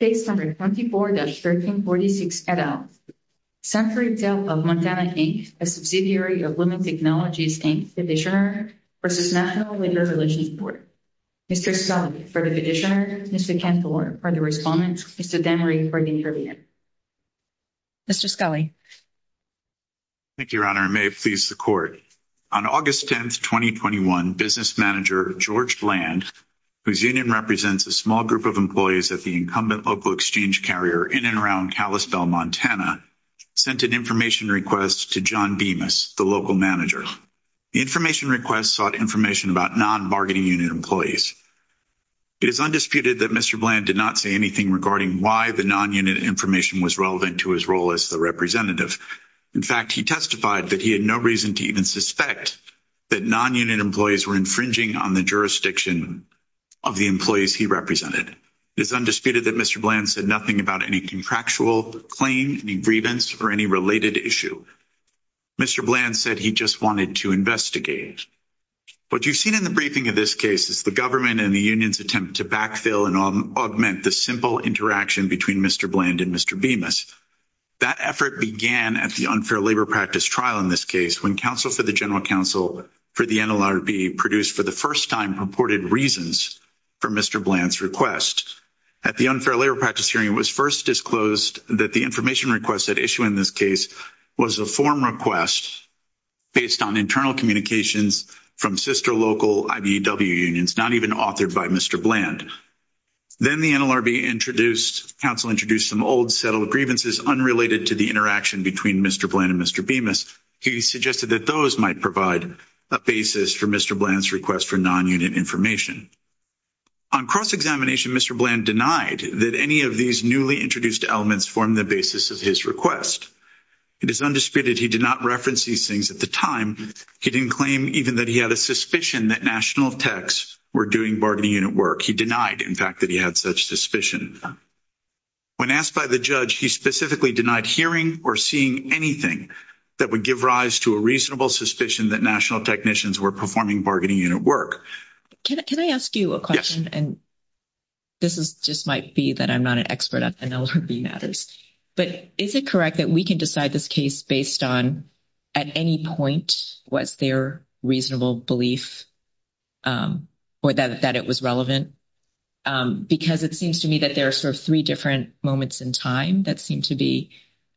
Page 24-1346, et al. Secretary of Montana, Inc., a subsidiary of Women Technologies, Inc., Petitioner, v. National Women Relations Board. Mr. Scully, for the Petitioner. Mr. Cantor, for the Respondent. Mr. Demery, for the Intervener. Mr. Scully. Thank you, Your Honor. May it please the Court. On August 10, 2021, business manager George Bland, whose union represents a small group of employees at the incumbent local exchange carrier in and around Kalispell, Montana, sent an information request to John Bemis, the local manager. The information request sought information about non-bargaining-unit employees. It is undisputed that Mr. Bland did not say anything regarding why the non-unit information was relevant to his role as the representative. In fact, he testified that he had no reason to even suspect that non-unit employees were infringing on the jurisdiction of the employees he represented. It is undisputed that Mr. Bland said nothing about any contractual claim, any grievance, or any related issue. Mr. Bland said he just wanted to investigate. What you've seen in the briefing of this case is the government and the union's attempt to backfill and augment the simple interaction between Mr. Bland and Mr. Bemis. That effort began at the unfair labor practice trial in this case, when counsel for the general counsel for the NLRB produced for the first time purported reasons for Mr. Bland's request. At the unfair labor practice hearing, it was first disclosed that the information request at issue in this case was a form request based on internal communications from sister local IBEW unions, not even authored by Mr. Bland. Then the NLRB counsel introduced some old settled grievances unrelated to the interaction between Mr. Bland and Mr. Bemis. He suggested that those might provide a basis for Mr. Bland's request for non-unit information. On cross-examination, Mr. Bland denied that any of these newly introduced elements formed the basis of his request. It is undisputed he did not reference these things at the time. He didn't claim even that he had a suspicion that national techs were doing bargaining unit work. He denied, in fact, that he had such suspicion. When asked by the judge, he specifically denied hearing or seeing anything that would give rise to a reasonable suspicion that national technicians were performing bargaining unit work. Can I ask you a question? Yes. And this just might be that I'm not an expert on NLRB matters. But is it correct that we can decide this case based on at any point was there reasonable belief or that it was relevant? Because it seems to me that there are sort of three different moments in time that seem to be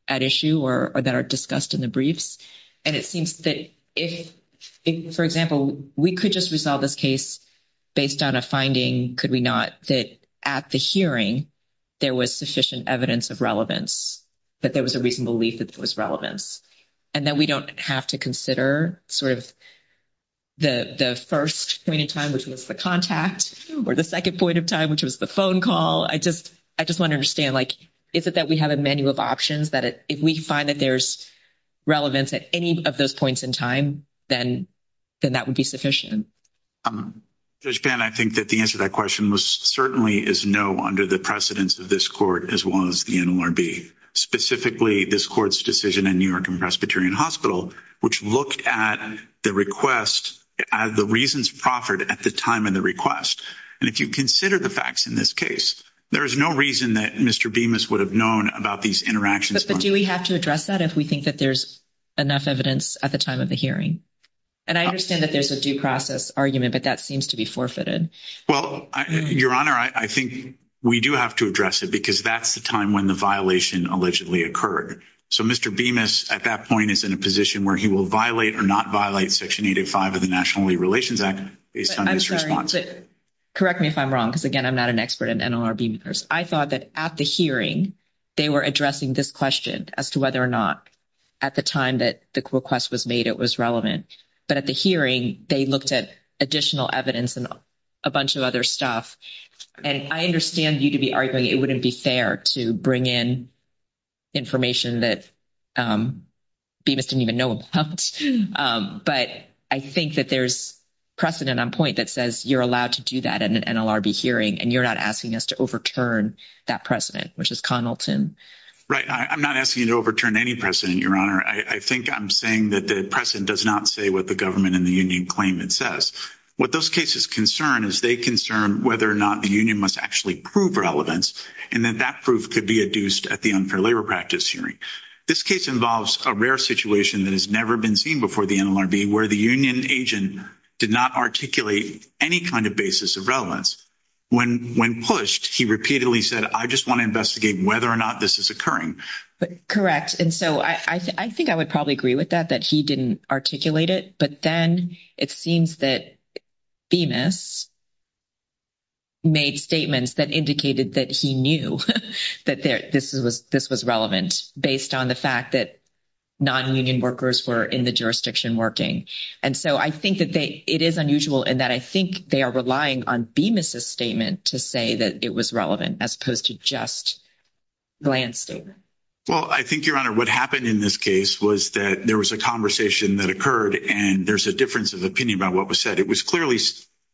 at issue or that are discussed in the briefs. And it seems that if, for example, we could just resolve this case based on a finding, could we not, that at the hearing there was sufficient evidence of relevance, that there was a reasonable belief that there was relevance, and that we don't have to consider sort of the first point in time, which was the contact, or the second point in time, which was the phone call. I just want to understand, like, is it that we have a menu of options that if we find that there's relevance at any of those points in time, then that would be sufficient? Judge Pan, I think that the answer to that question certainly is no under the precedence of this court as well as the NLRB. Specifically, this court's decision in New York and Presbyterian Hospital, which looked at the request, the reasons proffered at the time of the request. And if you consider the facts in this case, there is no reason that Mr. Bemis would have known about these interactions. But do we have to address that if we think that there's enough evidence at the time of the hearing? And I understand that there's a due process argument, but that seems to be forfeited. Well, Your Honor, I think we do have to address it because that's the time when the violation allegedly occurred. So Mr. Bemis at that point is in a position where he will violate or not violate Section 805 of the National Relations Act based on his response. Correct me if I'm wrong because, again, I'm not an expert in NLRB matters. I thought that at the hearing, they were addressing this question as to whether or not at the time that the request was made it was relevant. But at the hearing, they looked at additional evidence and a bunch of other stuff. And I understand you to be arguing it wouldn't be fair to bring in information that Bemis didn't even know about. But I think that there's precedent on point that says you're allowed to do that in an NLRB hearing and you're not asking us to overturn that precedent, which is Conalton. Right. I'm not asking you to overturn any precedent, Your Honor. I think I'm saying that the precedent does not say what the government and the union claim it says. What those cases concern is they concern whether or not the union must actually prove relevance and that that proof could be adduced at the unfair labor practice hearing. This case involves a rare situation that has never been seen before the NLRB where the union agent did not articulate any kind of basis of relevance. When pushed, he repeatedly said, I just want to investigate whether or not this is occurring. Correct. I think I would probably agree with that, that he didn't articulate it. But then it seems that Bemis made statements that indicated that he knew that this was relevant based on the fact that nonunion workers were in the jurisdiction working. And so I think that it is unusual in that I think they are relying on Bemis' statement to say that it was relevant as opposed to just Glantz' statement. Well, I think, Your Honor, what happened in this case was that there was a conversation that occurred and there's a difference of opinion about what was said. It was clearly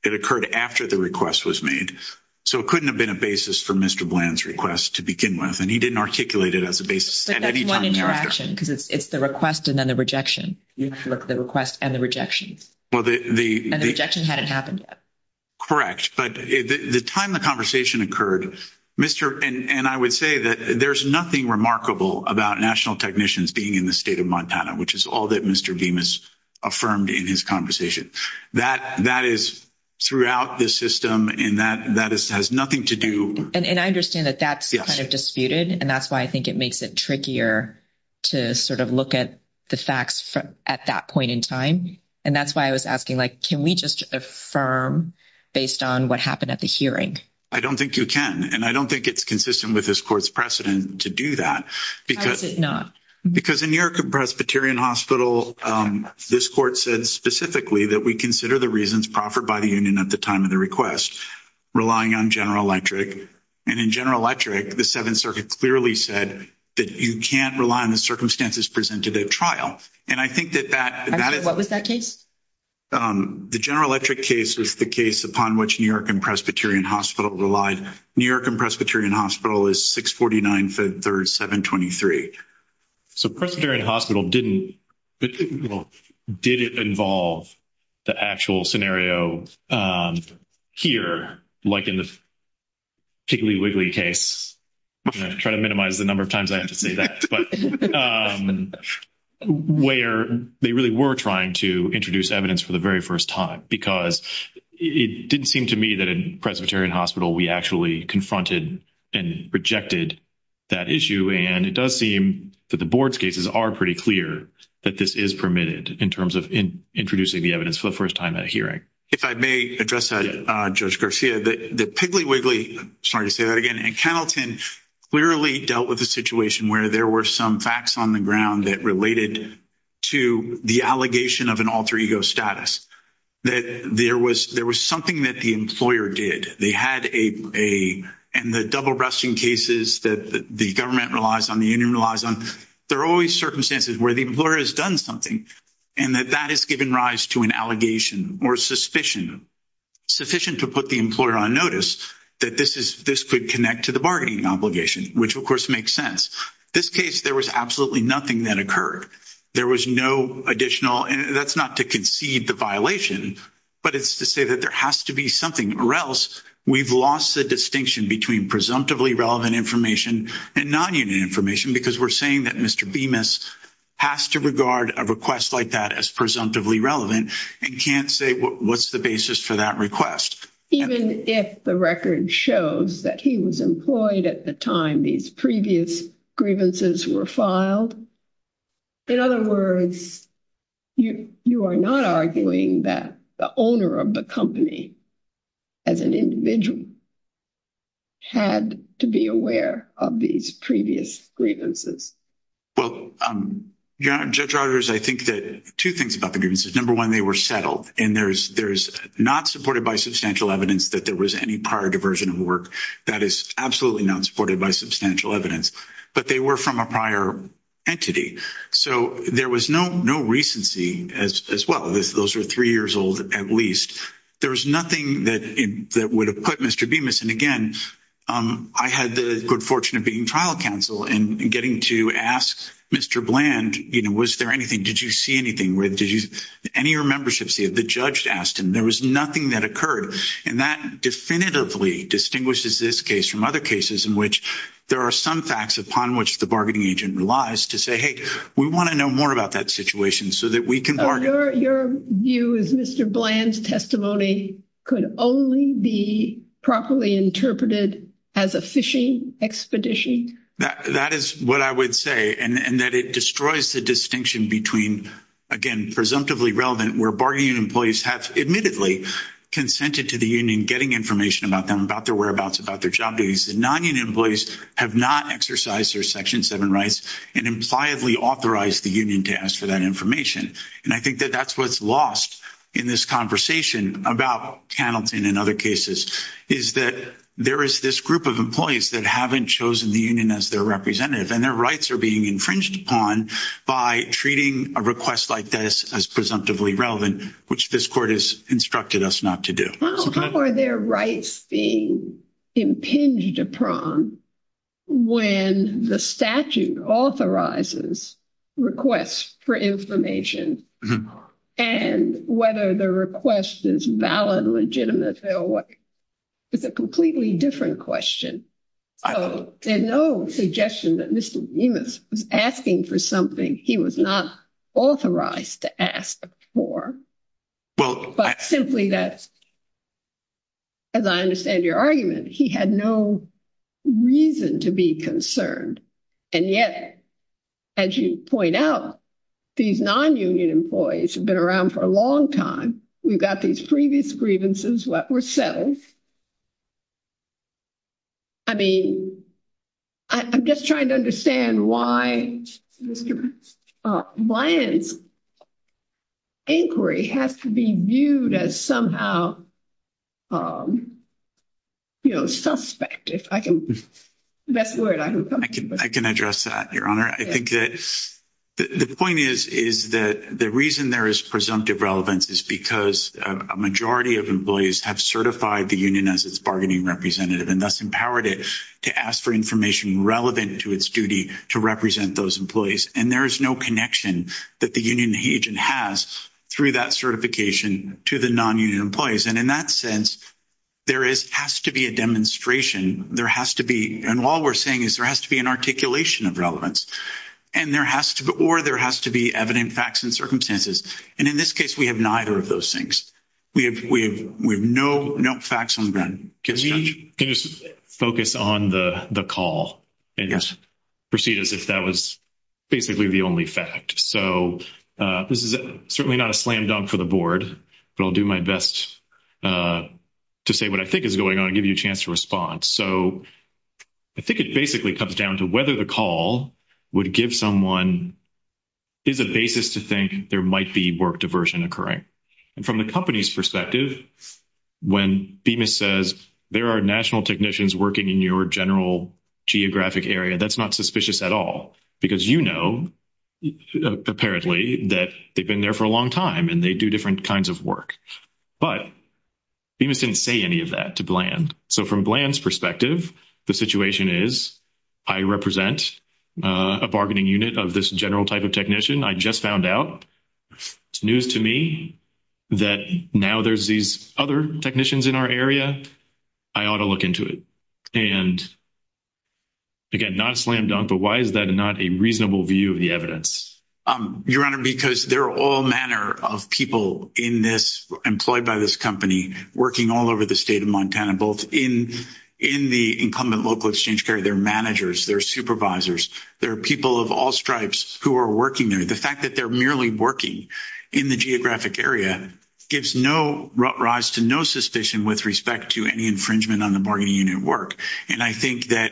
it occurred after the request was made. So it couldn't have been a basis for Mr. Glantz' request to begin with. And he didn't articulate it as a basis at any time thereafter. But that's one interaction because it's the request and then the rejection. The request and the rejection. And the rejection hadn't happened yet. Correct. But the time the conversation occurred, Mr. And I would say that there's nothing remarkable about national technicians being in the state of Montana, which is all that Mr. Bemis affirmed in his conversation. That is throughout the system and that has nothing to do. And I understand that that's kind of disputed. And that's why I think it makes it trickier to sort of look at the facts at that point in time. And that's why I was asking, like, can we just affirm based on what happened at the hearing? I don't think you can. And I don't think it's consistent with this court's precedent to do that. How is it not? Because in your Presbyterian hospital, this court said specifically that we consider the reasons proffered by the union at the time of the request relying on General Electric. And in General Electric, the Seventh Circuit clearly said that you can't rely on the circumstances presented at trial. And I think that that is. What was that case? The General Electric case was the case upon which New York and Presbyterian Hospital relied. New York and Presbyterian Hospital is 649-537-23. So Presbyterian Hospital didn't, well, did it involve the actual scenario here, like in the wiggly case? I'm going to try to minimize the number of times I have to say that. But where they really were trying to introduce evidence for the very first time. Because it didn't seem to me that in Presbyterian Hospital we actually confronted and rejected that issue. And it does seem that the board's cases are pretty clear that this is permitted in terms of introducing the evidence for the first time at a hearing. If I may address that, Judge Garcia, the piggly wiggly, sorry to say that again, and Kennelton clearly dealt with a situation where there were some facts on the ground that related to the allegation of an alter ego status. That there was something that the employer did. They had a, and the double brushing cases that the government relies on, the union relies on, there are always circumstances where the employer has done something. And that that has given rise to an allegation or suspicion sufficient to put the employer on notice that this could connect to the bargaining obligation. Which of course makes sense. This case there was absolutely nothing that occurred. There was no additional, that's not to concede the violation, but it's to say that there has to be something. Or else we've lost the distinction between presumptively relevant information and non-unit information. Because we're saying that Mr. Bemis has to regard a request like that as presumptively relevant. And can't say what's the basis for that request. Even if the record shows that he was employed at the time these previous grievances were filed. In other words, you are not arguing that the owner of the company as an individual had to be aware of these previous grievances. Well, Judge Rogers, I think that two things about the grievances. Number one, they were settled. And there's not supported by substantial evidence that there was any prior diversion of work. That is absolutely not supported by substantial evidence. But they were from a prior entity. So there was no recency as well. Those were three years old at least. There was nothing that would have put Mr. Bemis. And again, I had the good fortune of being trial counsel and getting to ask Mr. Bland, you know, was there anything? Did you see anything? Did any of your memberships see it? The judge asked him. There was nothing that occurred. And that definitively distinguishes this case from other cases in which there are some facts upon which the bargaining agent relies to say, hey, we want to know more about that situation so that we can bargain. Your view is Mr. Bland's testimony could only be properly interpreted as a phishing expedition? That is what I would say. And that it destroys the distinction between, again, presumptively relevant where bargaining employees have admittedly consented to the union getting information about them, about their whereabouts, about their job duties. Nonunion employees have not exercised their Section 7 rights and impliedly authorized the union to ask for that information. And I think that that's what's lost in this conversation about Hamilton and other cases is that there is this group of employees that haven't chosen the union as their representative and their rights are being infringed upon by treating a request like this as presumptively relevant, which this court has instructed us not to do. How are their rights being impinged upon when the statute authorizes requests for information and whether the request is valid, legitimate? It's a completely different question. There's no suggestion that Mr. Remus was asking for something he was not authorized to ask for, but simply that, as I understand your argument, he had no reason to be concerned. And yet, as you point out, these nonunion employees have been around for a long time. We've got these previous grievances that were settled. I mean, I'm just trying to understand why Brian's inquiry has to be viewed as somehow, you know, suspect, if I can best word. I can address that, Your Honor. I think that the point is, is that the reason there is presumptive relevance is because a majority of employees have certified the union as its bargaining representative and thus empowered it to ask for information relevant to its duty to represent those employees. And there is no connection that the union agent has through that certification to the nonunion employees. And in that sense, there has to be a demonstration. There has to be – and all we're saying is there has to be an articulation of relevance. And there has to be – or there has to be evident facts and circumstances. And in this case, we have neither of those things. We have no facts on the ground. Can we just focus on the call and proceed as if that was basically the only fact? So this is certainly not a slam dunk for the board, but I'll do my best to say what I think is going on and give you a chance to respond. So I think it basically comes down to whether the call would give someone – is a basis to think there might be work diversion occurring. And from the company's perspective, when Bemis says there are national technicians working in your general geographic area, that's not suspicious at all because you know apparently that they've been there for a long time and they do different kinds of work. But Bemis didn't say any of that to Bland. So from Bland's perspective, the situation is I represent a bargaining unit of this general type of technician. I just found out. It's news to me that now there's these other technicians in our area. I ought to look into it. And, again, not a slam dunk, but why is that not a reasonable view of the evidence? Your Honor, because there are all manner of people in this – employed by this company working all over the state of Montana, both in the incumbent local exchange carrier, their managers, their supervisors. There are people of all stripes who are working there. The fact that they're merely working in the geographic area gives no rise to no suspicion with respect to any infringement on the bargaining unit work. And I think that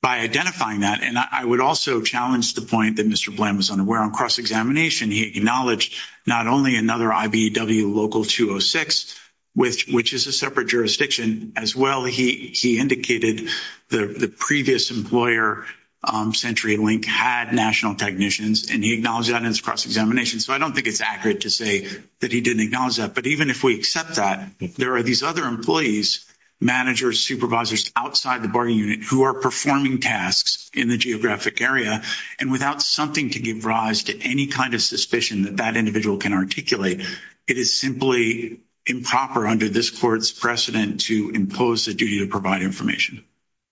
by identifying that – and I would also challenge the point that Mr. Bland was unaware on cross-examination. And he acknowledged not only another IBEW local 206, which is a separate jurisdiction as well. He indicated the previous employer, CenturyLink, had national technicians, and he acknowledged that on his cross-examination. So I don't think it's accurate to say that he didn't acknowledge that. But even if we accept that, there are these other employees, managers, supervisors outside the bargaining unit who are performing tasks in the geographic area, and without something to give rise to any kind of suspicion that that individual can articulate, it is simply improper under this court's precedent to impose a duty to provide information.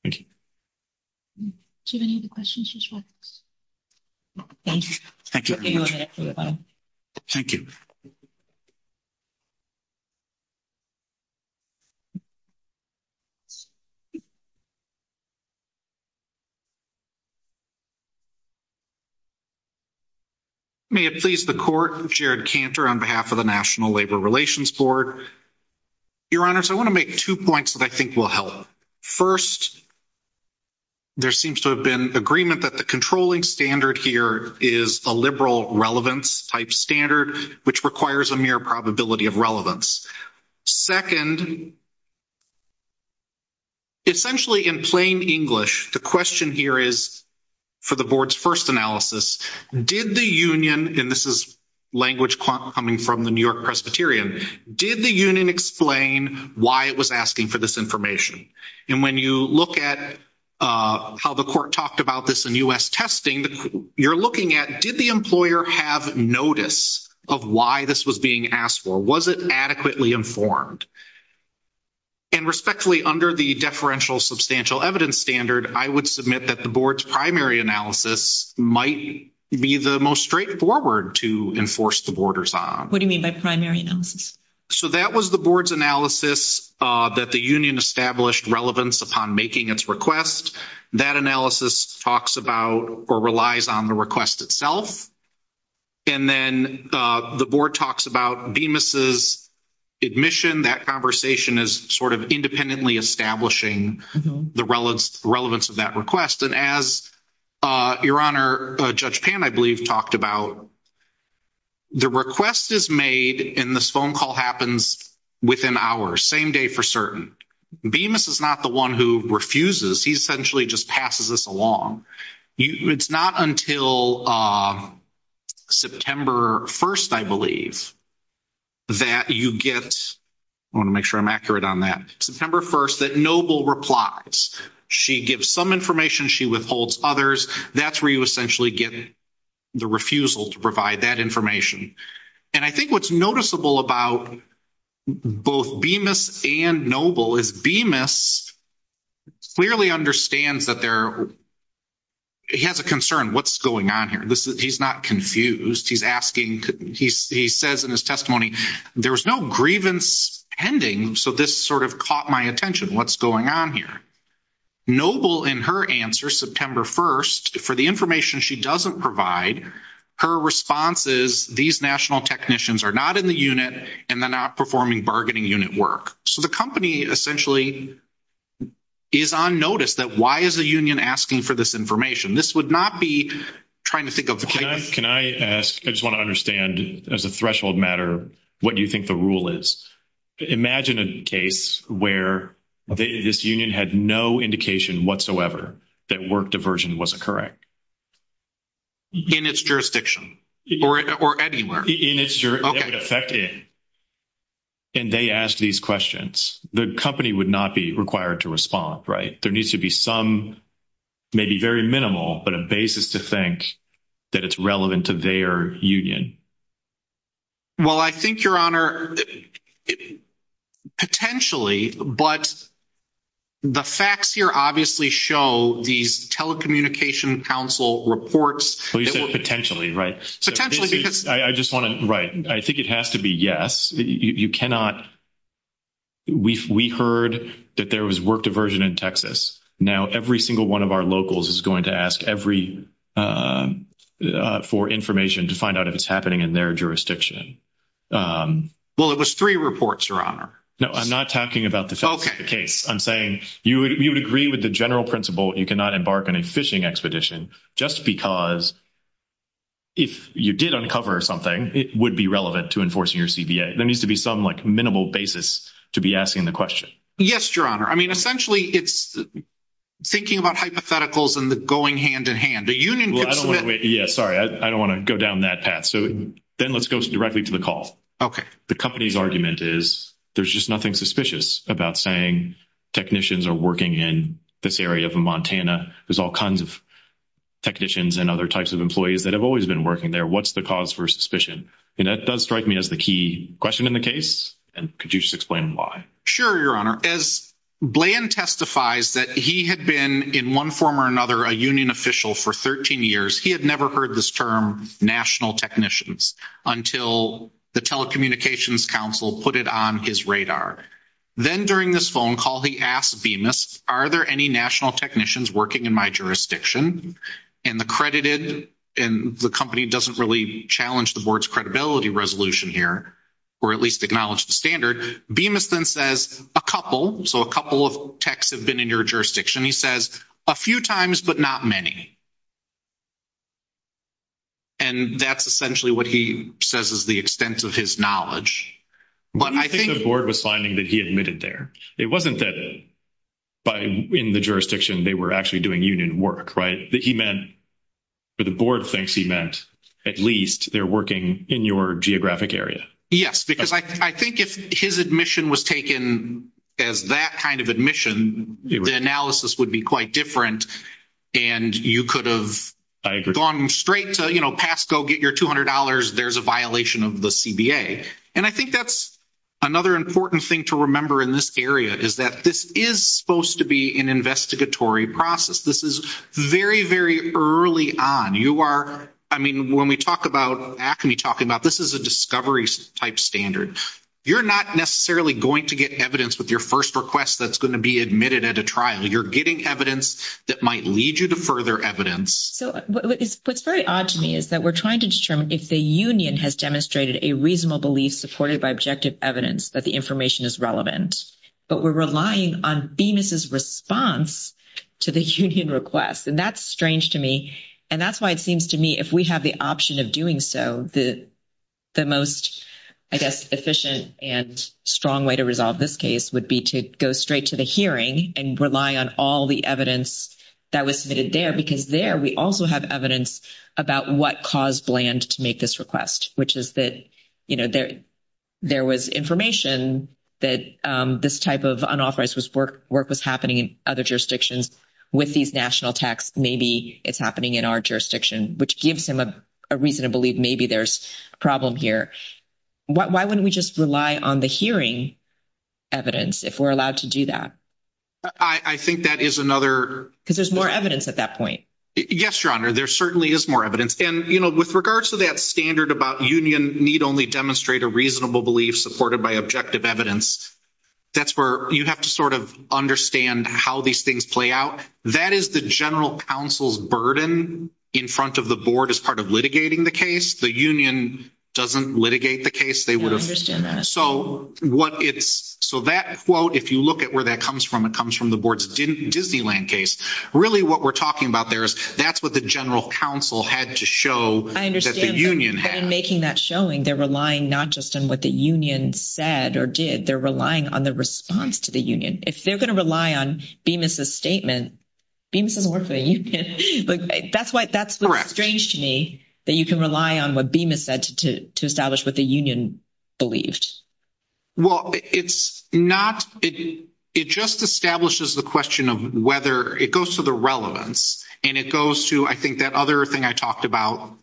Thank you. Do you have any other questions, Justice Roberts? Thank you. Thank you very much. Thank you. May it please the Court, Jared Cantor on behalf of the National Labor Relations Board. Your Honors, I want to make two points that I think will help. First, there seems to have been agreement that the controlling standard here is a liberal relevance type standard, which requires a mere probability of relevance. Second, essentially in plain English, the question here is for the Board's first analysis, did the union, and this is language coming from the New York Presbyterian, did the union explain why it was asking for this information? And when you look at how the Court talked about this in U.S. testing, you're looking at did the employer have notice of why this was being asked for? Was it adequately informed? And respectfully, under the deferential substantial evidence standard, I would submit that the Board's primary analysis might be the most straightforward to enforce the Borders on. What do you mean by primary analysis? So that was the Board's analysis that the union established relevance upon making its request. That analysis talks about or relies on the request itself. And then the Board talks about Bemis' admission. That conversation is sort of independently establishing the relevance of that request. And as Your Honor, Judge Pan, I believe, talked about, the request is made, and this phone call happens within hours, same day for certain. Bemis is not the one who refuses. He essentially just passes this along. It's not until September 1st, I believe, that you get, I want to make sure I'm accurate on that, September 1st, that Noble replies. She gives some information. She withholds others. That's where you essentially get the refusal to provide that information. And I think what's noticeable about both Bemis and Noble is Bemis clearly understands that they're, he has a concern. What's going on here? He's not confused. He's asking, he says in his testimony, there was no grievance pending, so this sort of caught my attention. What's going on here? Noble, in her answer, September 1st, for the information she doesn't provide, her response is, these national technicians are not in the unit and they're not performing bargaining unit work. So the company essentially is on notice that why is the union asking for this information? This would not be trying to think of the case. Can I ask, I just want to understand, as a threshold matter, what do you think the rule is? Imagine a case where this union had no indication whatsoever that work diversion was correct. In its jurisdiction? Or anywhere? In its jurisdiction. That would affect it. And they asked these questions. The company would not be required to respond, right? There needs to be some, maybe very minimal, but a basis to think that it's relevant to their union. Well, I think, Your Honor, potentially, but the facts here obviously show these telecommunication council reports. Well, you said potentially, right? Potentially. I just want to, right, I think it has to be yes. You cannot, we heard that there was work diversion in Texas. Now every single one of our locals is going to ask for information to find out if it's happening in their jurisdiction. Well, it was three reports, Your Honor. No, I'm not talking about the case. I'm saying you would agree with the general principle you cannot embark on a fishing expedition just because if you did uncover something, it would be relevant to enforcing your CBA. There needs to be some, like, minimal basis to be asking the question. Yes, Your Honor. I mean, essentially, it's thinking about hypotheticals and the going hand-in-hand. A union could submit. Yeah, sorry. I don't want to go down that path. So then let's go directly to the call. Okay. The company's argument is there's just nothing suspicious about saying technicians are working in this area of Montana. There's all kinds of technicians and other types of employees that have always been working there. What's the cause for suspicion? And that does strike me as the key question in the case, and could you just explain why? Sure, Your Honor. As Bland testifies that he had been, in one form or another, a union official for 13 years, he had never heard this term, national technicians, until the telecommunications council put it on his radar. Then during this phone call, he asked Bemis, are there any national technicians working in my jurisdiction? And the credited and the company doesn't really challenge the board's credibility resolution here, or at least acknowledge the standard. Bemis then says, a couple. So a couple of techs have been in your jurisdiction. He says, a few times, but not many. And that's essentially what he says is the extent of his knowledge. But I think the board was finding that he admitted there. It wasn't that in the jurisdiction they were actually doing union work, right? He meant, or the board thinks he meant, at least they're working in your geographic area. Yes, because I think if his admission was taken as that kind of admission, the analysis would be quite different, and you could have gone straight to, you know, pass, go get your $200, there's a violation of the CBA. And I think that's another important thing to remember in this area, is that this is supposed to be an investigatory process. This is very, very early on. You are, I mean, when we talk about, ACME talking about, this is a discovery-type standard. You're not necessarily going to get evidence with your first request that's going to be admitted at a trial. You're getting evidence that might lead you to further evidence. So what's very odd to me is that we're trying to determine if the union has demonstrated a reasonable belief supported by objective evidence that the information is relevant, but we're relying on Bemis' response to the union request. And that's strange to me, and that's why it seems to me if we have the option of doing so, the most, I guess, efficient and strong way to resolve this case would be to go straight to the hearing and rely on all the evidence that was submitted there, because there we also have evidence about what caused Bland to make this request, which is that, you know, there was information that this type of unauthorized work was happening in other jurisdictions with these national texts. Maybe it's happening in our jurisdiction, which gives him a reason to believe maybe there's a problem here. Why wouldn't we just rely on the hearing evidence if we're allowed to do that? I think that is another… Because there's more evidence at that point. Yes, Your Honor, there certainly is more evidence. And, you know, with regards to that standard about union need only demonstrate a reasonable belief to be supported by objective evidence, that's where you have to sort of understand how these things play out. That is the general counsel's burden in front of the board as part of litigating the case. The union doesn't litigate the case. They would have… I understand that. So what it's… So that quote, if you look at where that comes from, it comes from the board's Disneyland case. Really what we're talking about there is that's what the general counsel had to show that the union had. But in making that showing, they're relying not just on what the union said or did. They're relying on the response to the union. If they're going to rely on Bemis' statement, Bemis doesn't work for the union. That's what's strange to me, that you can rely on what Bemis said to establish what the union believed. Well, it's not… It just establishes the question of whether… It goes to the relevance, and it goes to, I think, that other thing I talked about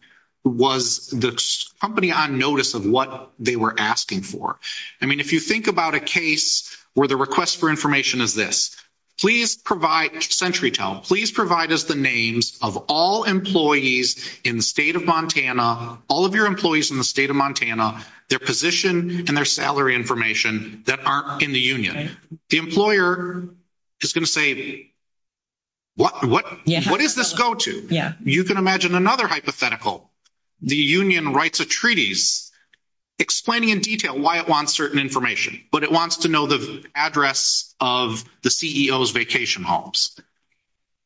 was the company on notice of what they were asking for. I mean, if you think about a case where the request for information is this. Please provide, CenturyTel, please provide us the names of all employees in the state of Montana, all of your employees in the state of Montana, their position and their salary information that aren't in the union. The employer is going to say, what does this go to? You can imagine another hypothetical. The union writes a treaties explaining in detail why it wants certain information, but it wants to know the address of the CEO's vacation homes.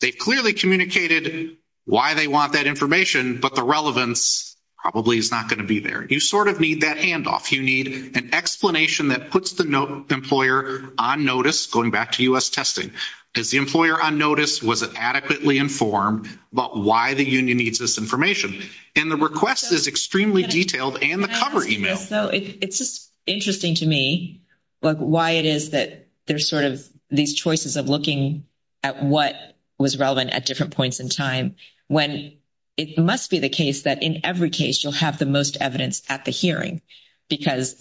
They've clearly communicated why they want that information, but the relevance probably is not going to be there. You sort of need that handoff. You need an explanation that puts the employer on notice, going back to U.S. testing. Is the employer on notice? Was it adequately informed about why the union needs this information? And the request is extremely detailed in the cover email. It's just interesting to me why it is that there's sort of these choices of looking at what was relevant at different points in time when it must be the case that in every case you'll have the most evidence at the hearing, because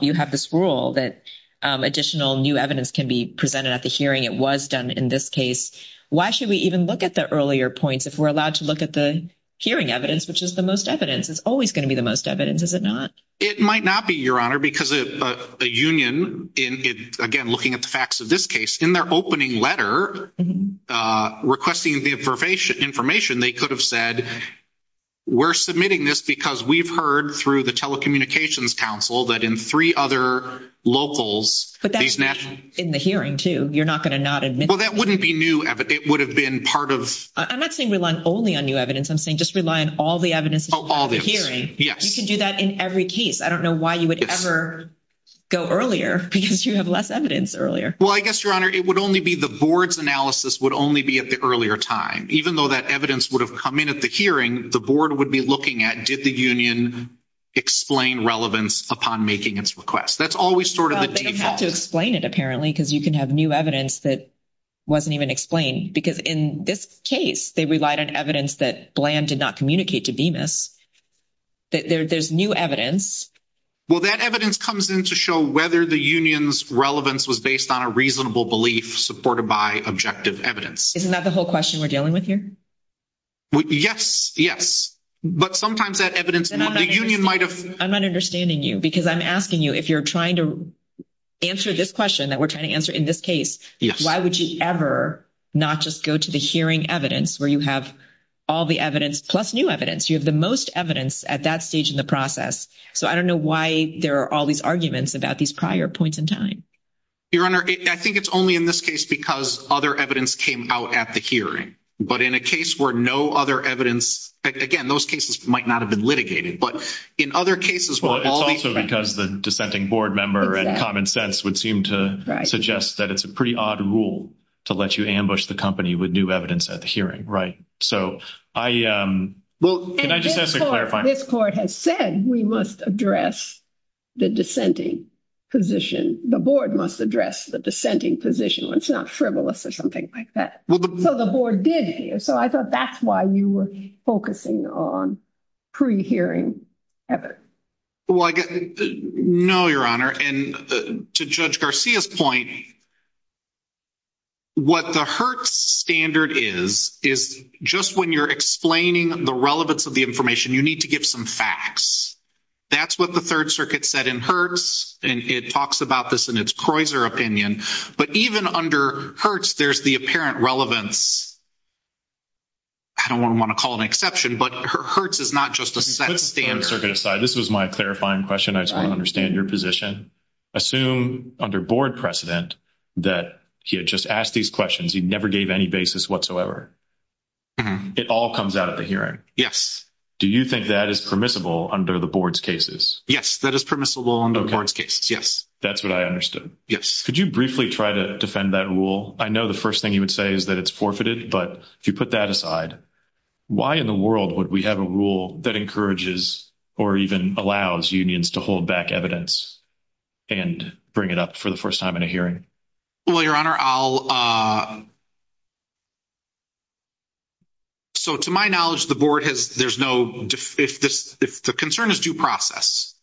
you have this rule that additional new evidence can be presented at the hearing. It was done in this case. Why should we even look at the earlier points if we're allowed to look at the hearing evidence, which is the most evidence? It's always going to be the most evidence, is it not? It might not be, Your Honor, because a union, again, looking at the facts of this case, in their opening letter requesting the information, they could have said, we're submitting this because we've heard through the Telecommunications Council that in three other locals, But that's in the hearing, too. You're not going to not admit it. Well, that wouldn't be new. It would have been part of – I'm not saying rely only on new evidence. I'm saying just rely on all the evidence at the hearing. You can do that in every case. I don't know why you would ever go earlier because you have less evidence earlier. Well, I guess, Your Honor, it would only be the board's analysis would only be at the earlier time. Even though that evidence would have come in at the hearing, the board would be looking at, did the union explain relevance upon making its request? That's always sort of the default. Well, they don't have to explain it, apparently, because you can have new evidence that wasn't even explained. Because in this case, they relied on evidence that Bland did not communicate to Bemis. There's new evidence. Well, that evidence comes in to show whether the union's relevance was based on a reasonable belief supported by objective evidence. Isn't that the whole question we're dealing with here? Yes, yes. But sometimes that evidence – I'm not understanding you because I'm asking you if you're trying to answer this question that we're trying to answer in this case, why would you ever not just go to the hearing evidence where you have all the evidence plus new evidence? You have the most evidence at that stage in the process. So I don't know why there are all these arguments about these prior points in time. Your Honor, I think it's only in this case because other evidence came out at the hearing. But in a case where no other evidence – again, those cases might not have been litigated. But in other cases where all these – Well, it's also because the dissenting board member and common sense would seem to suggest that it's a pretty odd rule to let you ambush the company with new evidence at the hearing, right? So I – well, can I just ask a clarifying – This court has said we must address the dissenting position. The board must address the dissenting position. It's not frivolous or something like that. So the board did hear. So I thought that's why you were focusing on pre-hearing evidence. No, Your Honor. And to Judge Garcia's point, what the Hertz standard is, is just when you're explaining the relevance of the information, you need to give some facts. That's what the Third Circuit said in Hertz, and it talks about this in its Croizer opinion. But even under Hertz, there's the apparent relevance. I don't want to call it an exception, but Hertz is not just a set standard. Third Circuit aside, this was my clarifying question. I just want to understand your position. Assume under board precedent that he had just asked these questions. He never gave any basis whatsoever. It all comes out at the hearing. Yes. Do you think that is permissible under the board's cases? Yes, that is permissible under the board's cases, yes. That's what I understood. Yes. Could you briefly try to defend that rule? I know the first thing you would say is that it's forfeited, but if you put that aside, why in the world would we have a rule that encourages or even allows unions to hold back evidence and bring it up for the first time in a hearing? Well, Your Honor, I'll – so to my knowledge, the board has – there's no – if the concern is due process,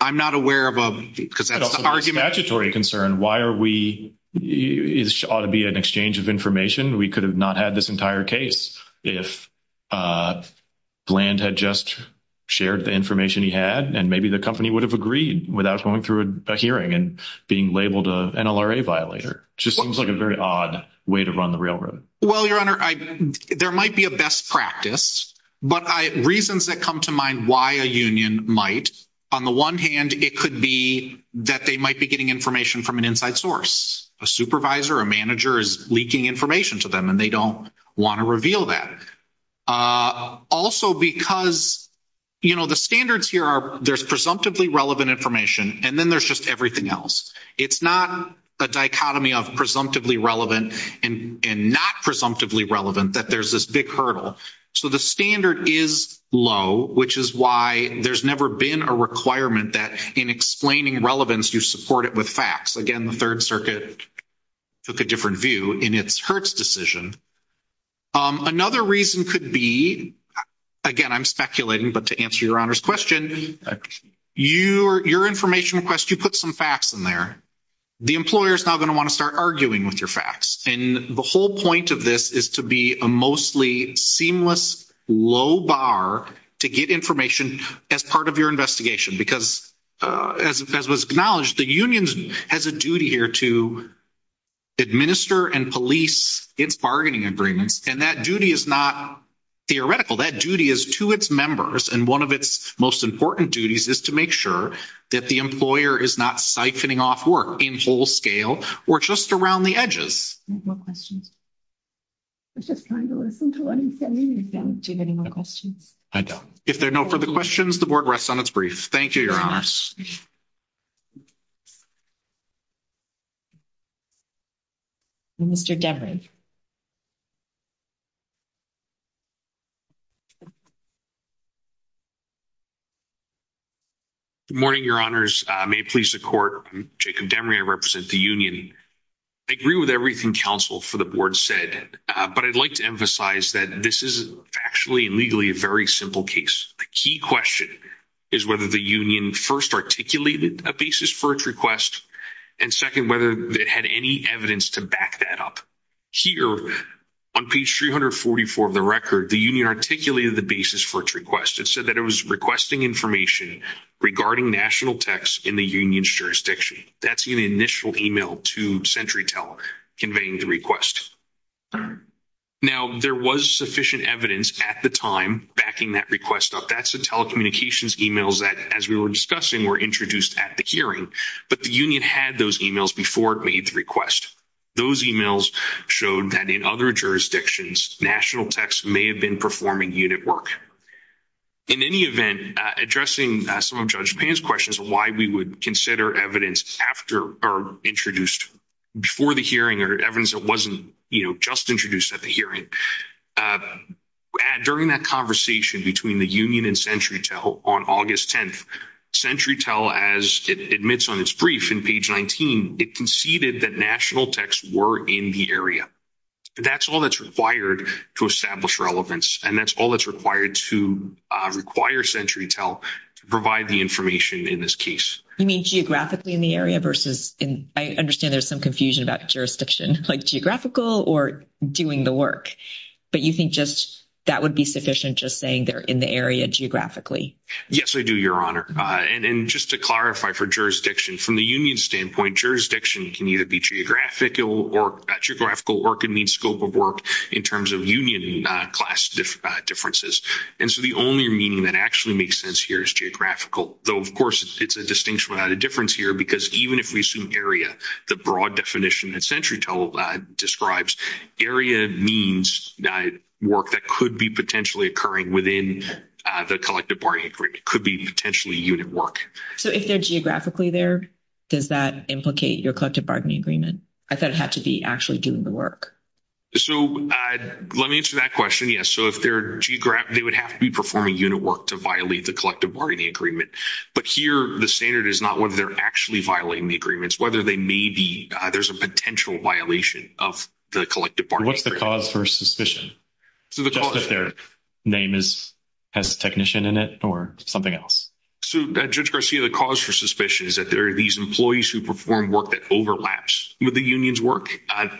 I'm not aware of a – because that's the argument. It's a statutory concern. Why are we – it ought to be an exchange of information. We could have not had this entire case if Bland had just shared the information he had, and maybe the company would have agreed without going through a hearing and being labeled an NLRA violator. It just seems like a very odd way to run the railroad. Well, Your Honor, there might be a best practice, but reasons that come to mind why a union might, on the one hand, it could be that they might be getting information from an inside source. A supervisor, a manager is leaking information to them, and they don't want to reveal that. Also because, you know, the standards here are there's presumptively relevant information, and then there's just everything else. It's not a dichotomy of presumptively relevant and not presumptively relevant that there's this big hurdle. So the standard is low, which is why there's never been a requirement that in explaining relevance, you support it with facts. Again, the Third Circuit took a different view in its Hertz decision. Another reason could be, again, I'm speculating, but to answer Your Honor's question, your information request, you put some facts in there. The employer is now going to want to start arguing with your facts, and the whole point of this is to be a mostly seamless low bar to get information as part of your investigation because as was acknowledged, the union has a duty here to administer and police its bargaining agreements, and that duty is not theoretical. That duty is to its members, and one of its most important duties is to make sure that the employer is not siphoning off work in full scale or just around the edges. Any more questions? I was just trying to listen to what he was saying. Do you have any more questions? I don't. If there are no further questions, the Board rests on its brief. Thank you, Your Honors. Mr. Demery. Good morning, Your Honors. May it please the Court, I'm Jacob Demery. I represent the union. I agree with everything counsel for the Board said, but I'd like to emphasize that this is factually and legally a very simple case. The key question is whether the union first articulated a basis for its request, and second, whether it had any evidence to back that up. Here on page 344 of the record, the union articulated the basis for its request. It said that it was requesting information regarding national texts in the union's jurisdiction. That's in the initial e-mail to CenturyTel conveying the request. Now, there was sufficient evidence at the time backing that request up. That's the telecommunications e-mails that, as we were discussing, were introduced at the hearing, but the union had those e-mails before it made the request. Those e-mails showed that in other jurisdictions, national texts may have been performing unit work. In any event, addressing some of Judge Payne's questions on why we would consider evidence introduced before the hearing or evidence that wasn't just introduced at the hearing, during that conversation between the union and CenturyTel on August 10th, CenturyTel, as it admits on its brief in page 19, it conceded that national texts were in the area. That's all that's required to establish relevance, and that's all that's required to require CenturyTel to provide the information in this case. You mean geographically in the area versus in – I understand there's some confusion about jurisdiction, like geographical or doing the work. But you think just that would be sufficient, just saying they're in the area geographically? Yes, I do, Your Honor. And just to clarify for jurisdiction, from the union standpoint, jurisdiction can either be geographical work and mean scope of work in terms of union class differences. And so the only meaning that actually makes sense here is geographical, though, of course, it's a distinction without a difference here, because even if we assume area, the broad definition that CenturyTel describes, area means work that could be potentially occurring within the collective bargaining agreement. It could be potentially unit work. So if they're geographically there, does that implicate your collective bargaining agreement? I thought it had to be actually doing the work. So let me answer that question. Yes, so if they're geographic, they would have to be performing unit work to violate the collective bargaining agreement. But here the standard is not whether they're actually violating the agreements, whether they may be there's a potential violation of the collective bargaining agreement. What's the cause for suspicion? Just if their name has technician in it or something else. So, Judge Garcia, the cause for suspicion is that there are these employees who perform work that overlaps with the union's work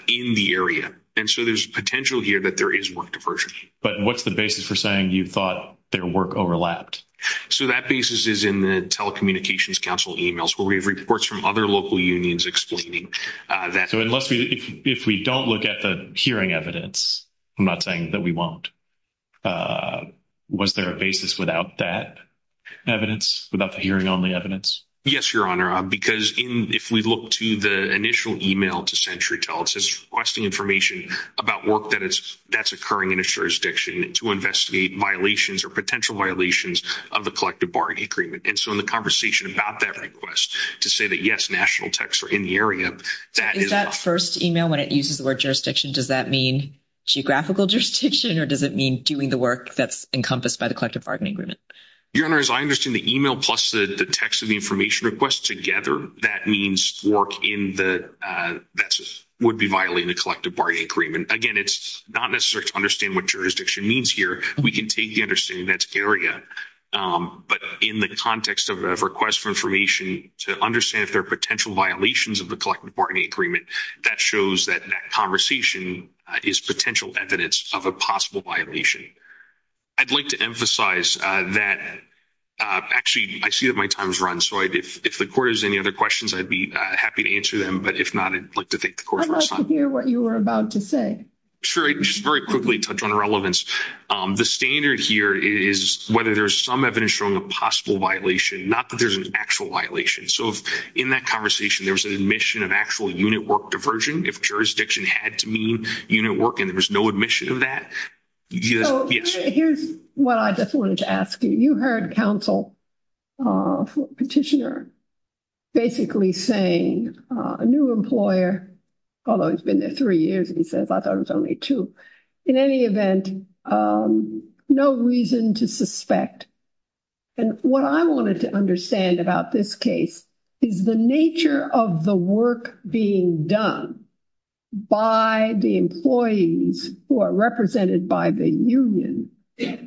in the area. And so there's potential here that there is work diversion. But what's the basis for saying you thought their work overlapped? So that basis is in the telecommunications council emails where we have reports from other local unions explaining that. So unless we if we don't look at the hearing evidence, I'm not saying that we won't. Was there a basis without that evidence, without the hearing on the evidence? Yes, Your Honor, because if we look to the initial email to CenturyTel, it says requesting information about work that it's that's occurring in a jurisdiction to investigate violations or potential violations of the collective bargaining agreement. And so in the conversation about that request to say that, yes, national techs are in the area. That is that first email when it uses the word jurisdiction. Does that mean geographical jurisdiction or does it mean doing the work that's encompassed by the collective bargaining agreement? Your Honor, as I understand the email plus the text of the information request together, that means work in the that would be violating the collective bargaining agreement. Again, it's not necessary to understand what jurisdiction means here. We can take the understanding that's area. But in the context of a request for information to understand if there are potential violations of the collective bargaining agreement, that shows that that conversation is potential evidence of a possible violation. I'd like to emphasize that. Actually, I see that my time is run. So if the court has any other questions, I'd be happy to answer them. But if not, I'd like to thank the court for its time. I'd like to hear what you were about to say. Sure. Just very quickly touch on relevance. The standard here is whether there's some evidence showing a possible violation, not that there's an actual violation. So in that conversation, there was an admission of actual unit work diversion. If jurisdiction had to mean unit work and there was no admission of that. Here's what I just wanted to ask you. You heard counsel petitioner basically saying a new employer, although he's been there three years, he says, I thought it was only two. In any event, no reason to suspect. And what I wanted to understand about this case is the nature of the work being done by the employees who are represented by the union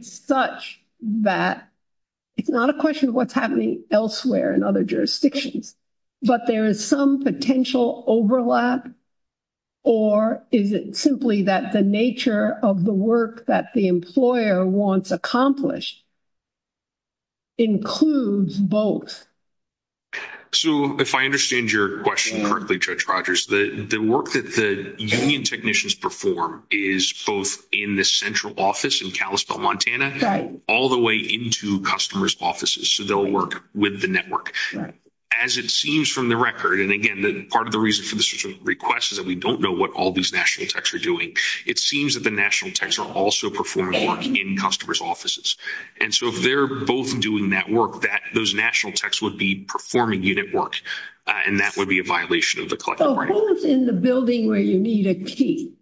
such that it's not a question of what's happening elsewhere in other jurisdictions, but there is some potential overlap. Or is it simply that the nature of the work that the employer wants accomplished includes both? So if I understand your question correctly, Judge Rogers, the work that the union technicians perform is both in the central office in Kalispell, Montana, all the way into customers' offices. So they'll work with the network. As it seems from the record, and again, part of the reason for this request is that we don't know what all these national techs are doing. It seems that the national techs are also performing work in customers' offices. And so if they're both doing that work, those national techs would be performing unit work, and that would be a violation of the collective bargaining. So both in the building where you need a key.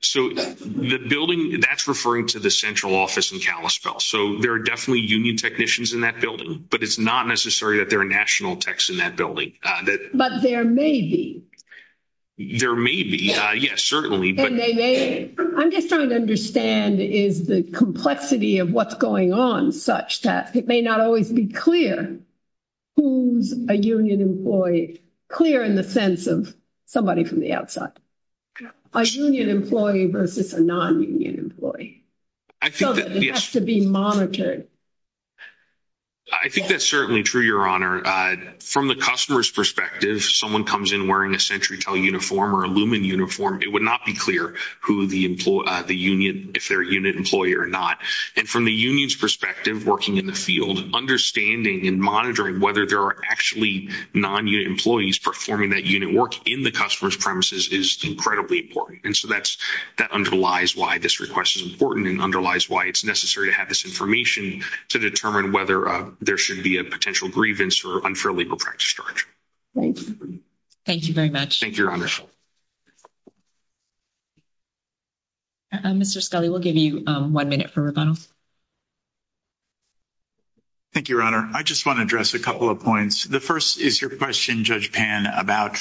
So the building, that's referring to the central office in Kalispell. So there are definitely union technicians in that building, but it's not necessary that there are national techs in that building. But there may be. There may be, yes, certainly. I'm just trying to understand is the complexity of what's going on such that it may not always be clear who's a union employee, clear in the sense of somebody from the outside. A union employee versus a non-union employee. So it has to be monitored. I think that's certainly true, Your Honor. From the customer's perspective, if someone comes in wearing a SentryTel uniform or a Lumen uniform, it would not be clear who the union, if they're a unit employee or not. And from the union's perspective, working in the field, understanding and monitoring whether there are actually non-unit employees performing that unit work in the customer's premises is incredibly important. And so that underlies why this request is important and underlies why it's necessary to have this information to determine whether there should be a potential grievance or unfair legal practice charge. Thank you very much. Thank you, Your Honor. Mr. Scully, we'll give you one minute for rebuttal. Thank you, Your Honor. I just want to address a couple of points. The first is your question, Judge Pan, about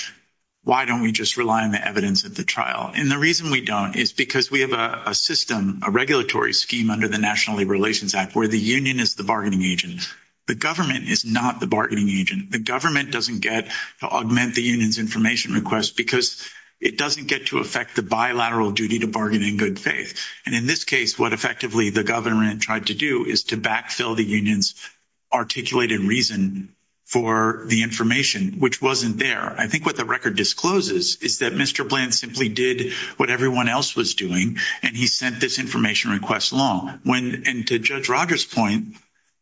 why don't we just rely on the evidence at the trial. And the reason we don't is because we have a system, a regulatory scheme under the National Labor Relations Act where the union is the bargaining agent. The government is not the bargaining agent. The government doesn't get to augment the union's information request because it doesn't get to affect the bilateral duty to bargain in good faith. And in this case, what effectively the government tried to do is to backfill the union's articulated reason for the information, which wasn't there. I think what the record discloses is that Mr. Bland simply did what everyone else was doing and he sent this information request along. And to Judge Rogers' point,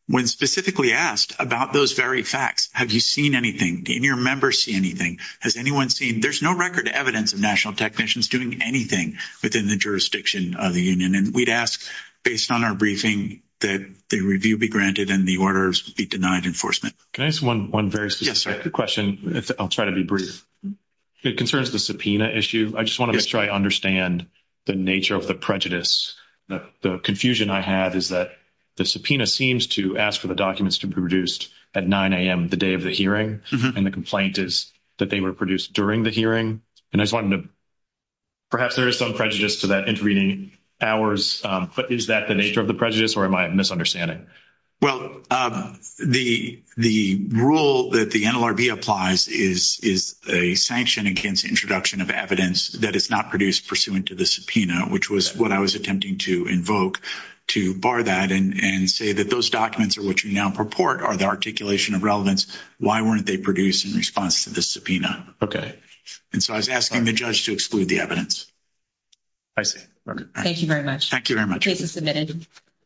when specifically asked about those very facts, have you seen anything? Did any of your members see anything? Has anyone seen? There's no record evidence of national technicians doing anything within the jurisdiction of the union. And we'd ask, based on our briefing, that the review be granted and the orders be denied enforcement. Can I ask one very specific question? I'll try to be brief. It concerns the subpoena issue. I just want to make sure I understand the nature of the prejudice. The confusion I have is that the subpoena seems to ask for the documents to be produced at 9 a.m. the day of the hearing, and the complaint is that they were produced during the hearing. And I just wanted to – perhaps there is some prejudice to that intervening hours, but is that the nature of the prejudice or am I misunderstanding? Well, the rule that the NLRB applies is a sanction against introduction of evidence that is not produced pursuant to the subpoena, which was what I was attempting to invoke, to bar that and say that those documents are what you now purport are the articulation of relevance. Why weren't they produced in response to the subpoena? Okay. And so I was asking the judge to exclude the evidence. I see. Thank you very much. Thank you very much. The case is submitted.